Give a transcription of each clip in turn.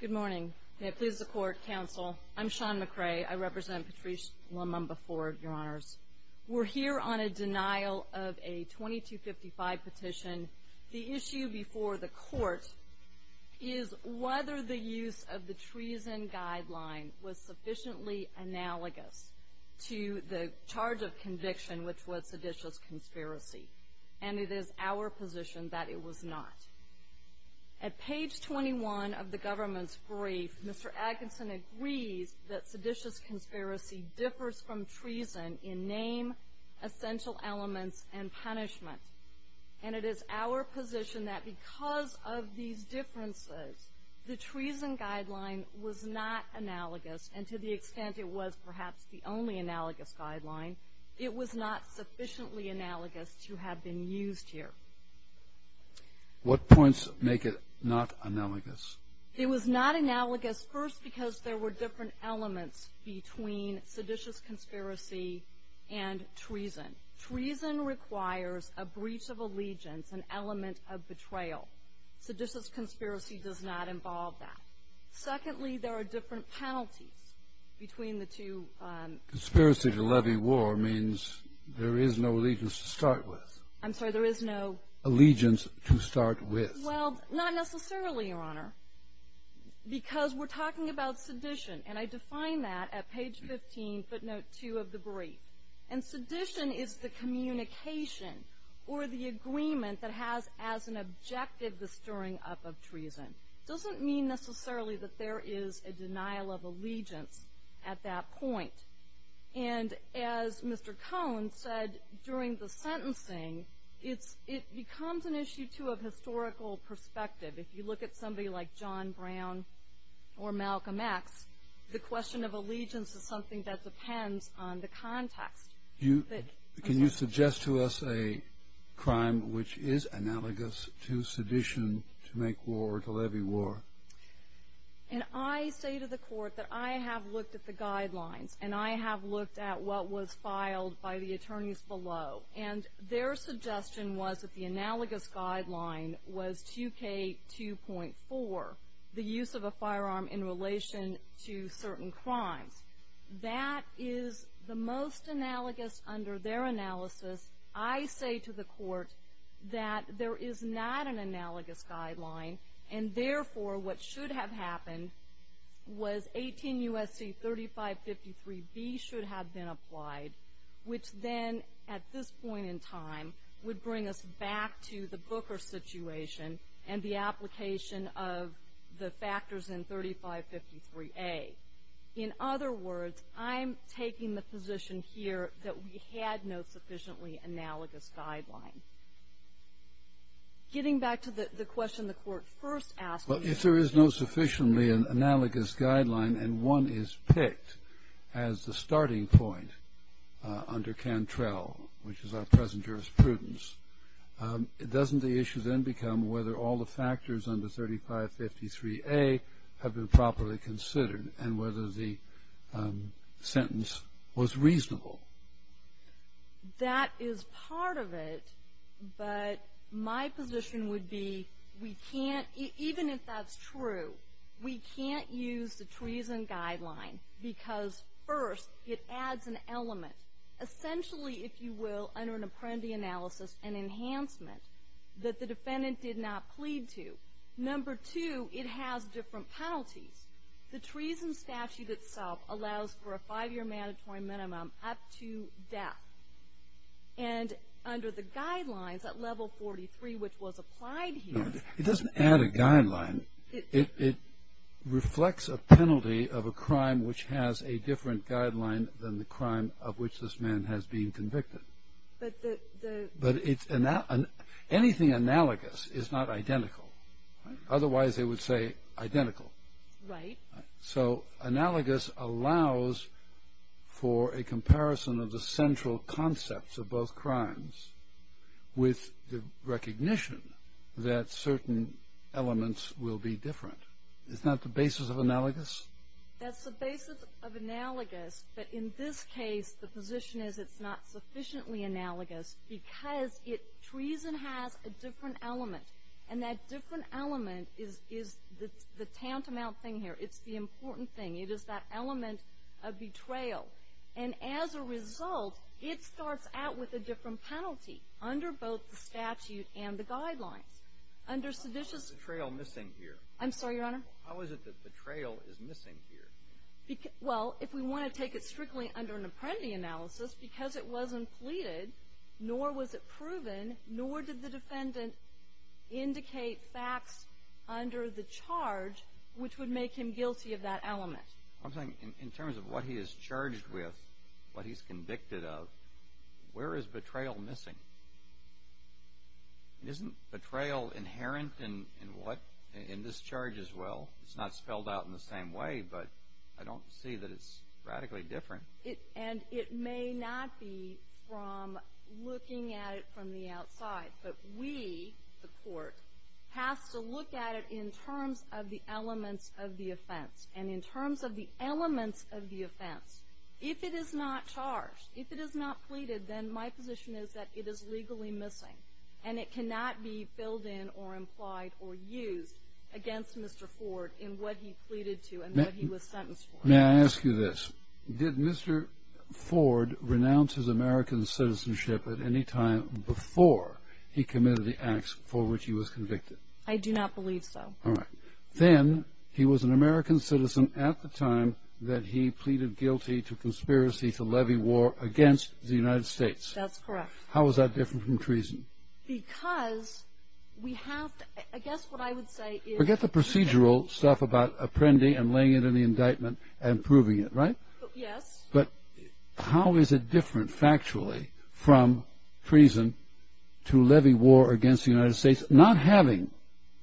Good morning. May it please the Court, Counsel. I'm Sean McRae. I represent Patrice Lumumba Ford, Your Honors. We're here on a denial of a 2255 petition. The issue before the Court is whether the use of the treason guideline was sufficiently analogous to the charge of conviction, which was seditious conspiracy, and it is our position that it was not. At page 21 of the government's brief, Mr. Atkinson agrees that seditious conspiracy differs from treason in name, essential elements, and punishment, and it is our position that because of these differences, the treason guideline was not analogous, and to the extent it was perhaps the only analogous guideline, it was not sufficiently analogous to have been used here. What points make it not analogous? It was not analogous, first, because there were different elements between seditious conspiracy and treason. Treason requires a breach of allegiance, an element of betrayal. Seditious conspiracy does not involve that. Secondly, there are different penalties between the two. Conspiracy to levy war means there is no allegiance to start with. I'm sorry, there is no? Allegiance to start with. Well, not necessarily, Your Honor, because we're talking about sedition. And I define that at page 15, footnote 2 of the brief. And sedition is the communication or the agreement that has as an objective the stirring up of treason. It doesn't mean necessarily that there is a denial of allegiance at that point. And as Mr. Cohen said during the sentencing, it becomes an issue, too, of historical perspective. If you look at somebody like John Brown or Malcolm X, the question of allegiance is something that depends on the context. Can you suggest to us a crime which is analogous to sedition to make war or to levy war? And I say to the court that I have looked at the guidelines, and I have looked at what was filed by the attorneys below. And their suggestion was that the analogous guideline was 2K2.4, the use of a firearm in relation to certain crimes. That is the most analogous under their analysis. I say to the court that there is not an analogous guideline, and therefore what should have happened was 18 U.S.C. 3553B should have been applied, which then at this point in time would bring us back to the Booker situation and the application of the factors in 3553A. In other words, I'm taking the position here that we had no sufficiently analogous guideline. Getting back to the question the court first asked me. Well, if there is no sufficiently analogous guideline and one is picked as the starting point under Cantrell, which is our present jurisprudence, doesn't the issue then become whether all the factors under 3553A have been properly considered and whether the sentence was reasonable? That is part of it, but my position would be we can't, even if that's true, we can't use the treason guideline because first it adds an element. Essentially, if you will, under an apprendee analysis, an enhancement that the defendant did not plead to. Number two, it has different penalties. The treason statute itself allows for a five-year mandatory minimum up to death, and under the guidelines at level 43, which was applied here. It doesn't add a guideline. It reflects a penalty of a crime which has a different guideline than the crime of which this man has been convicted. But anything analogous is not identical. Otherwise, they would say identical. Right. So analogous allows for a comparison of the central concepts of both crimes with the recognition that certain elements will be different. Isn't that the basis of analogous? That's the basis of analogous. But in this case, the position is it's not sufficiently analogous because treason has a different element. And that different element is the tantamount thing here. It's the important thing. It is that element of betrayal. And as a result, it starts out with a different penalty under both the statute and the guidelines. How is betrayal missing here? I'm sorry, Your Honor? How is it that betrayal is missing here? Well, if we want to take it strictly under an apprendee analysis, because it wasn't pleaded, nor was it proven, nor did the defendant indicate facts under the charge which would make him guilty of that element. I'm saying in terms of what he is charged with, what he's convicted of, where is betrayal missing? Isn't betrayal inherent in this charge as well? It's not spelled out in the same way, but I don't see that it's radically different. And it may not be from looking at it from the outside, but we, the court, has to look at it in terms of the elements of the offense. And in terms of the elements of the offense, if it is not charged, if it is not pleaded, then my position is that it is legally missing, and it cannot be filled in or implied or used against Mr. Ford in what he pleaded to and what he was sentenced for. May I ask you this? Did Mr. Ford renounce his American citizenship at any time before he committed the acts for which he was convicted? I do not believe so. All right. Then he was an American citizen at the time that he pleaded guilty to conspiracy to levy war against the United States. That's correct. How is that different from treason? Because we have to, I guess what I would say is- Forget the procedural stuff about appending and laying it in the indictment and proving it, right? Yes. But how is it different factually from treason to levy war against the United States, not having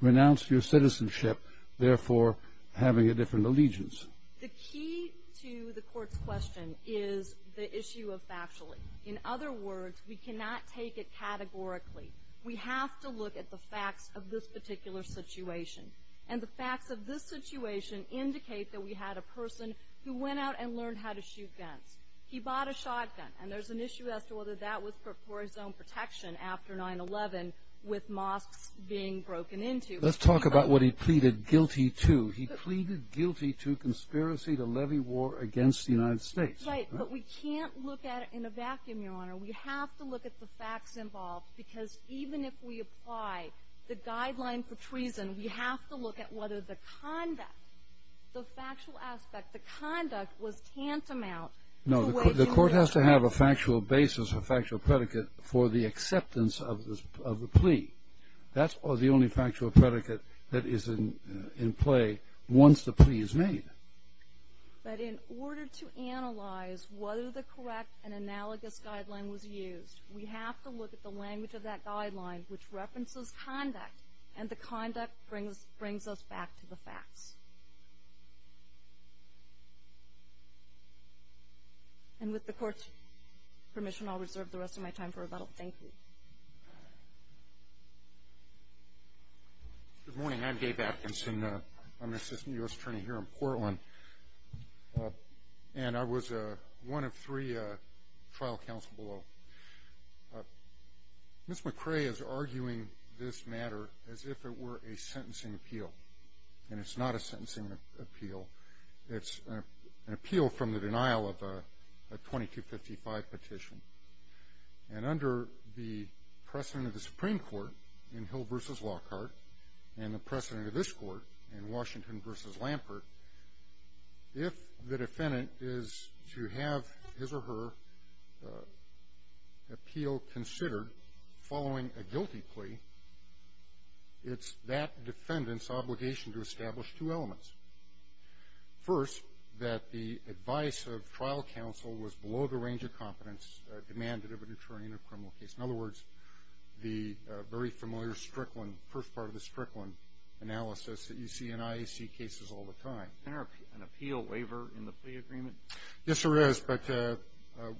renounced your citizenship, therefore having a different allegiance? The key to the court's question is the issue of factually. In other words, we cannot take it categorically. We have to look at the facts of this particular situation, and the facts of this situation indicate that we had a person who went out and learned how to shoot guns. He bought a shotgun, and there's an issue as to whether that was for his own protection after 9-11 with mosques being broken into. Let's talk about what he pleaded guilty to. He pleaded guilty to conspiracy to levy war against the United States. Right. But we can't look at it in a vacuum, Your Honor. We have to look at the facts involved because even if we apply the guideline for treason, we have to look at whether the conduct, the factual aspect, the conduct was tantamount- No. The court has to have a factual basis, a factual predicate for the acceptance of the plea. That's the only factual predicate that is in play once the plea is made. But in order to analyze whether the correct and analogous guideline was used, we have to look at the language of that guideline, which references conduct, and the conduct brings us back to the facts. And with the court's permission, I'll reserve the rest of my time for rebuttal. Thank you. Good morning. I'm Dave Atkinson. I'm an assistant U.S. attorney here in Portland, and I was one of three trial counsel below. Ms. McCrae is arguing this matter as if it were a sentencing appeal, and it's not a sentencing appeal. It's an appeal from the denial of a 2255 petition. And under the precedent of the Supreme Court in Hill v. Lockhart and the precedent of this court in Washington v. Lampert, if the defendant is to have his or her appeal considered following a guilty plea, it's that defendant's obligation to establish two elements. First, that the advice of trial counsel was below the range of competence demanded of an attorney in a criminal case, in other words, the very familiar Strickland, first part of the Strickland analysis that you see in IAC cases all the time. Isn't there an appeal waiver in the plea agreement? Yes, there is. But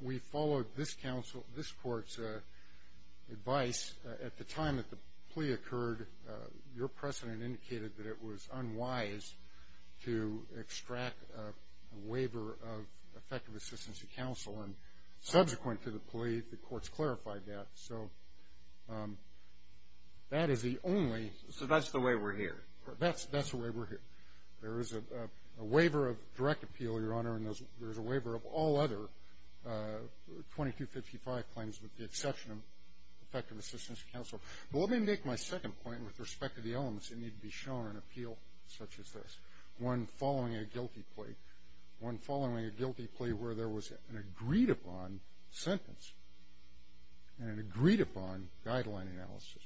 we followed this court's advice. At the time that the plea occurred, your precedent indicated that it was unwise to extract a waiver of effective assistance to counsel, and subsequent to the plea, the courts clarified that. So that is the only. So that's the way we're here. That's the way we're here. There is a waiver of direct appeal, Your Honor, and there's a waiver of all other 2255 claims with the exception of effective assistance to counsel. But let me make my second point with respect to the elements that need to be shown in an appeal such as this, one following a guilty plea, one following a guilty plea where there was an agreed-upon sentence and an agreed-upon guideline analysis.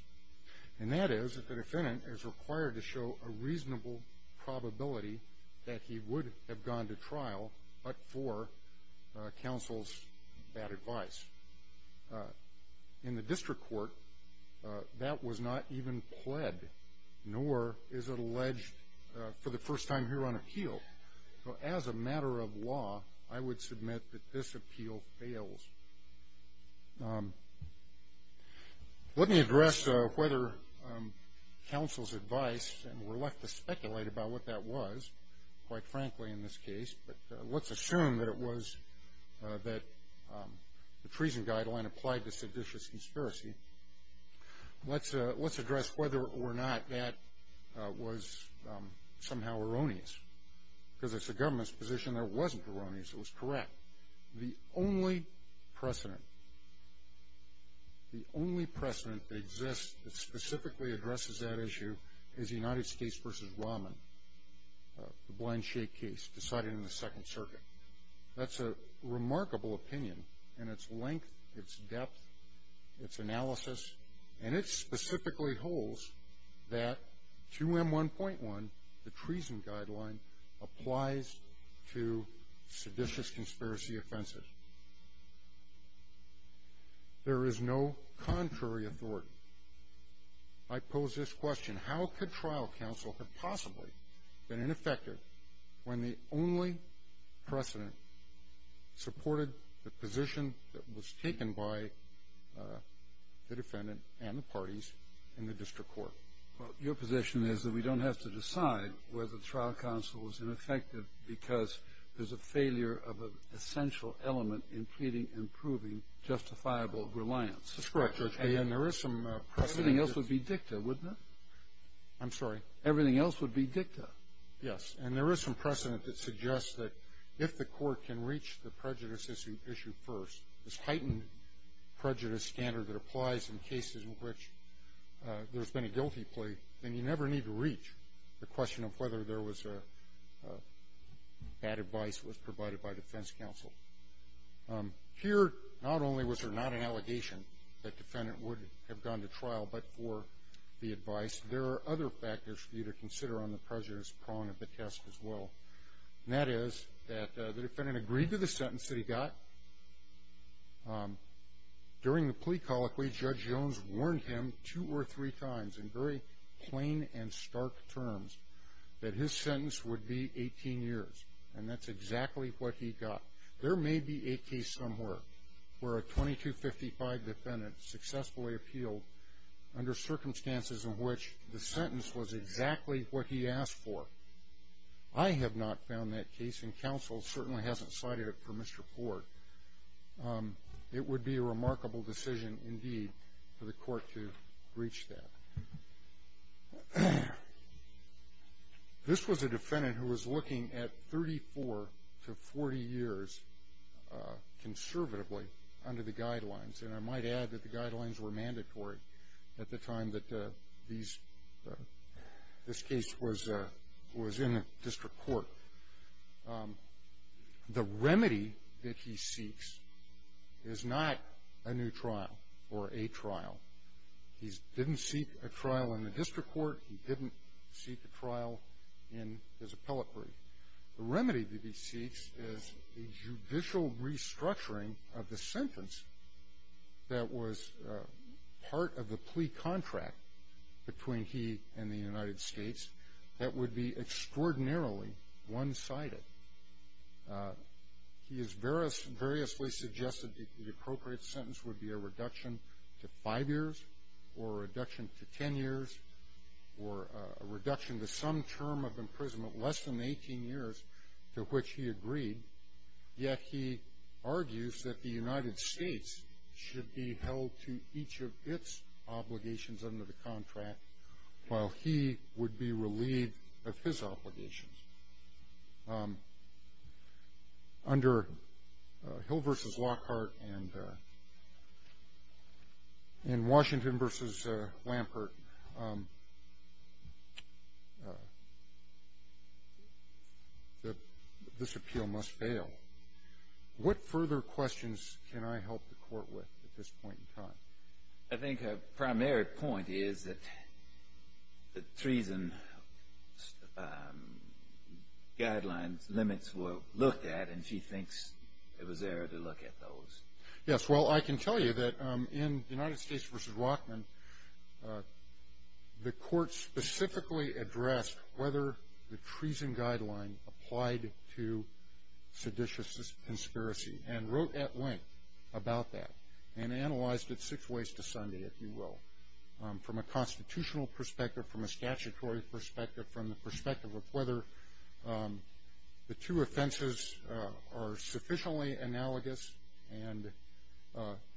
And that is that the defendant is required to show a reasonable probability that he would have gone to trial, but for counsel's bad advice. In the district court, that was not even pled, nor is it alleged for the first time here on appeal. So as a matter of law, I would submit that this appeal fails. Let me address whether counsel's advice, and we're left to speculate about what that was, quite frankly, in this case, but let's assume that it was that the treason guideline applied to seditious conspiracy. Let's address whether or not that was somehow erroneous, because it's the government's position that it wasn't erroneous, it was correct. Now, the only precedent that exists that specifically addresses that issue is the United States v. Rahman, the blind shake case decided in the Second Circuit. That's a remarkable opinion in its length, its depth, its analysis, and it specifically holds that 2M1.1, the treason guideline, applies to seditious conspiracy offenses. There is no contrary authority. I pose this question, how could trial counsel have possibly been ineffective when the only precedent supported the position that was taken by the defendant and the parties in the district court? Well, your position is that we don't have to decide whether trial counsel was ineffective because there's a failure of an essential element in pleading and proving justifiable reliance. That's correct, Judge. And there is some precedent. Everything else would be dicta, wouldn't it? I'm sorry? Everything else would be dicta. Yes, and there is some precedent that suggests that if the court can reach the prejudice issue first, this heightened prejudice standard that applies in cases in which there's been a guilty plea, then you never need to reach the question of whether there was bad advice that was provided by defense counsel. Here, not only was there not an allegation that defendant would have gone to trial but for the advice, there are other factors for you to consider on the prejudice prong of the test as well, and that is that the defendant agreed to the sentence that he got. During the plea colloquy, Judge Jones warned him two or three times in very plain and stark terms that his sentence would be 18 years, and that's exactly what he got. There may be a case somewhere where a 2255 defendant successfully appealed under circumstances in which the sentence was exactly what he asked for. I have not found that case, and counsel certainly hasn't cited it for misreport. It would be a remarkable decision, indeed, for the court to reach that. This was a defendant who was looking at 34 to 40 years conservatively under the guidelines, and I might add that the guidelines were mandatory at the time that this case was in the district court. The remedy that he seeks is not a new trial or a trial. He didn't seek a trial in the district court. He didn't seek a trial in his appellate brief. The remedy that he seeks is a judicial restructuring of the sentence that was part of the plea contract between he and the United States that would be extraordinarily one-sided. He has variously suggested the appropriate sentence would be a reduction to five years or a reduction to 10 years or a reduction to some term of imprisonment less than 18 years, to which he agreed, yet he argues that the United States should be held to each of its obligations under the contract while he would be relieved of his obligations. Under Hill v. Lockhart and in Washington v. Lampert, this appeal must fail. What further questions can I help the court with at this point in time? I think a primary point is that the treason guidelines limits were looked at, and she thinks it was error to look at those. Yes, well, I can tell you that in United States v. Rockman, the court specifically addressed whether the treason guideline applied to seditious conspiracy and wrote at length about that and analyzed it six ways to Sunday, if you will, from a constitutional perspective, from a statutory perspective, from the perspective of whether the two offenses are sufficiently analogous, and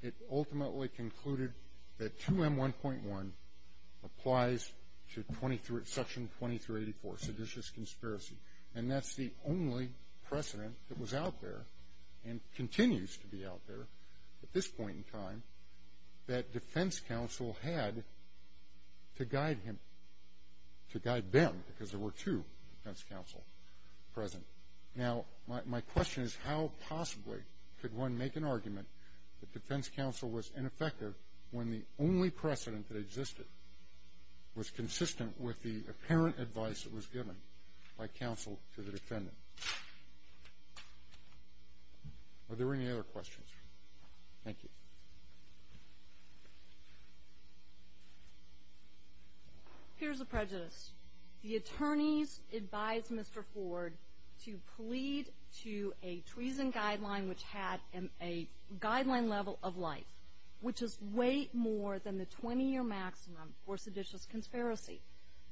it ultimately concluded that 2M1.1 applies to Section 2384, seditious conspiracy, and that's the only precedent that was out there and continues to be out there at this point in time that defense counsel had to guide him, to guide them, because there were two defense counsel present. Now, my question is how possibly could one make an argument that defense counsel was ineffective when the only precedent that existed was consistent with the apparent advice that was given by counsel to the defendant? Are there any other questions? Thank you. Here's the prejudice. The attorneys advised Mr. Ford to plead to a treason guideline which had a guideline level of life, which is way more than the 20-year maximum for seditious conspiracy.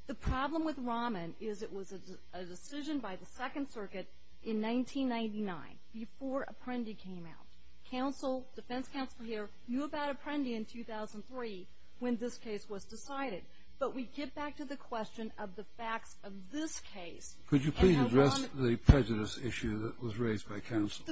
The problem with Rahman is it was a decision by the Second Circuit in 1999, before Apprendi came out. Counsel, defense counsel here, knew about Apprendi in 2003 when this case was decided, but we get back to the question of the facts of this case. Could you please address the prejudice issue that was raised by counsel?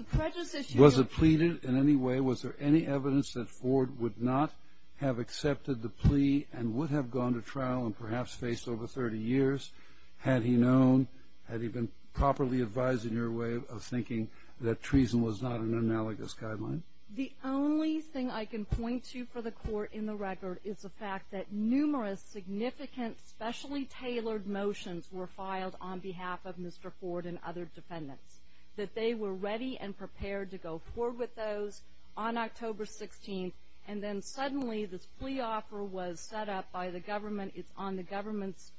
Was it pleaded in any way? Was there any evidence that Ford would not have accepted the plea and would have gone to trial and perhaps faced over 30 years? Had he known? Had he been properly advised in your way of thinking that treason was not an analogous guideline? The only thing I can point to for the court in the record is the fact that numerous significant, specially tailored motions were filed on behalf of Mr. Ford and other defendants, that they were ready and prepared to go forward with those on October 16th, and then suddenly this plea offer was set up by the government. It's on the government's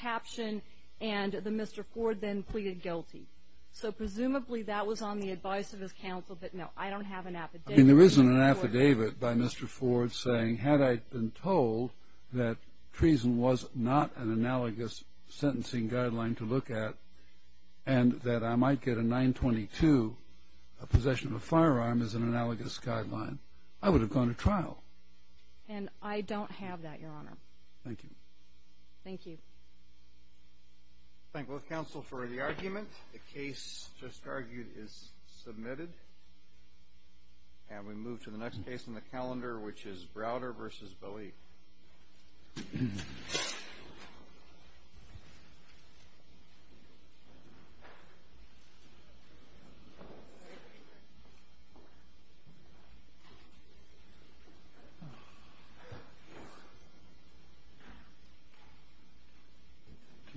caption, and Mr. Ford then pleaded guilty. So presumably that was on the advice of his counsel that, no, I don't have an affidavit. There isn't an affidavit by Mr. Ford saying, had I been told that treason was not an analogous sentencing guideline to look at and that I might get a 922, a possession of a firearm, as an analogous guideline, I would have gone to trial. And I don't have that, Your Honor. Thank you. Thank you. Thank both counsel for the argument. The case just argued is submitted. And we move to the next case in the calendar, which is Browder v. Bowie. Do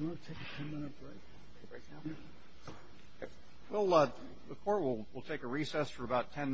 you want to take a ten-minute break? The court will take a recess for about ten minutes.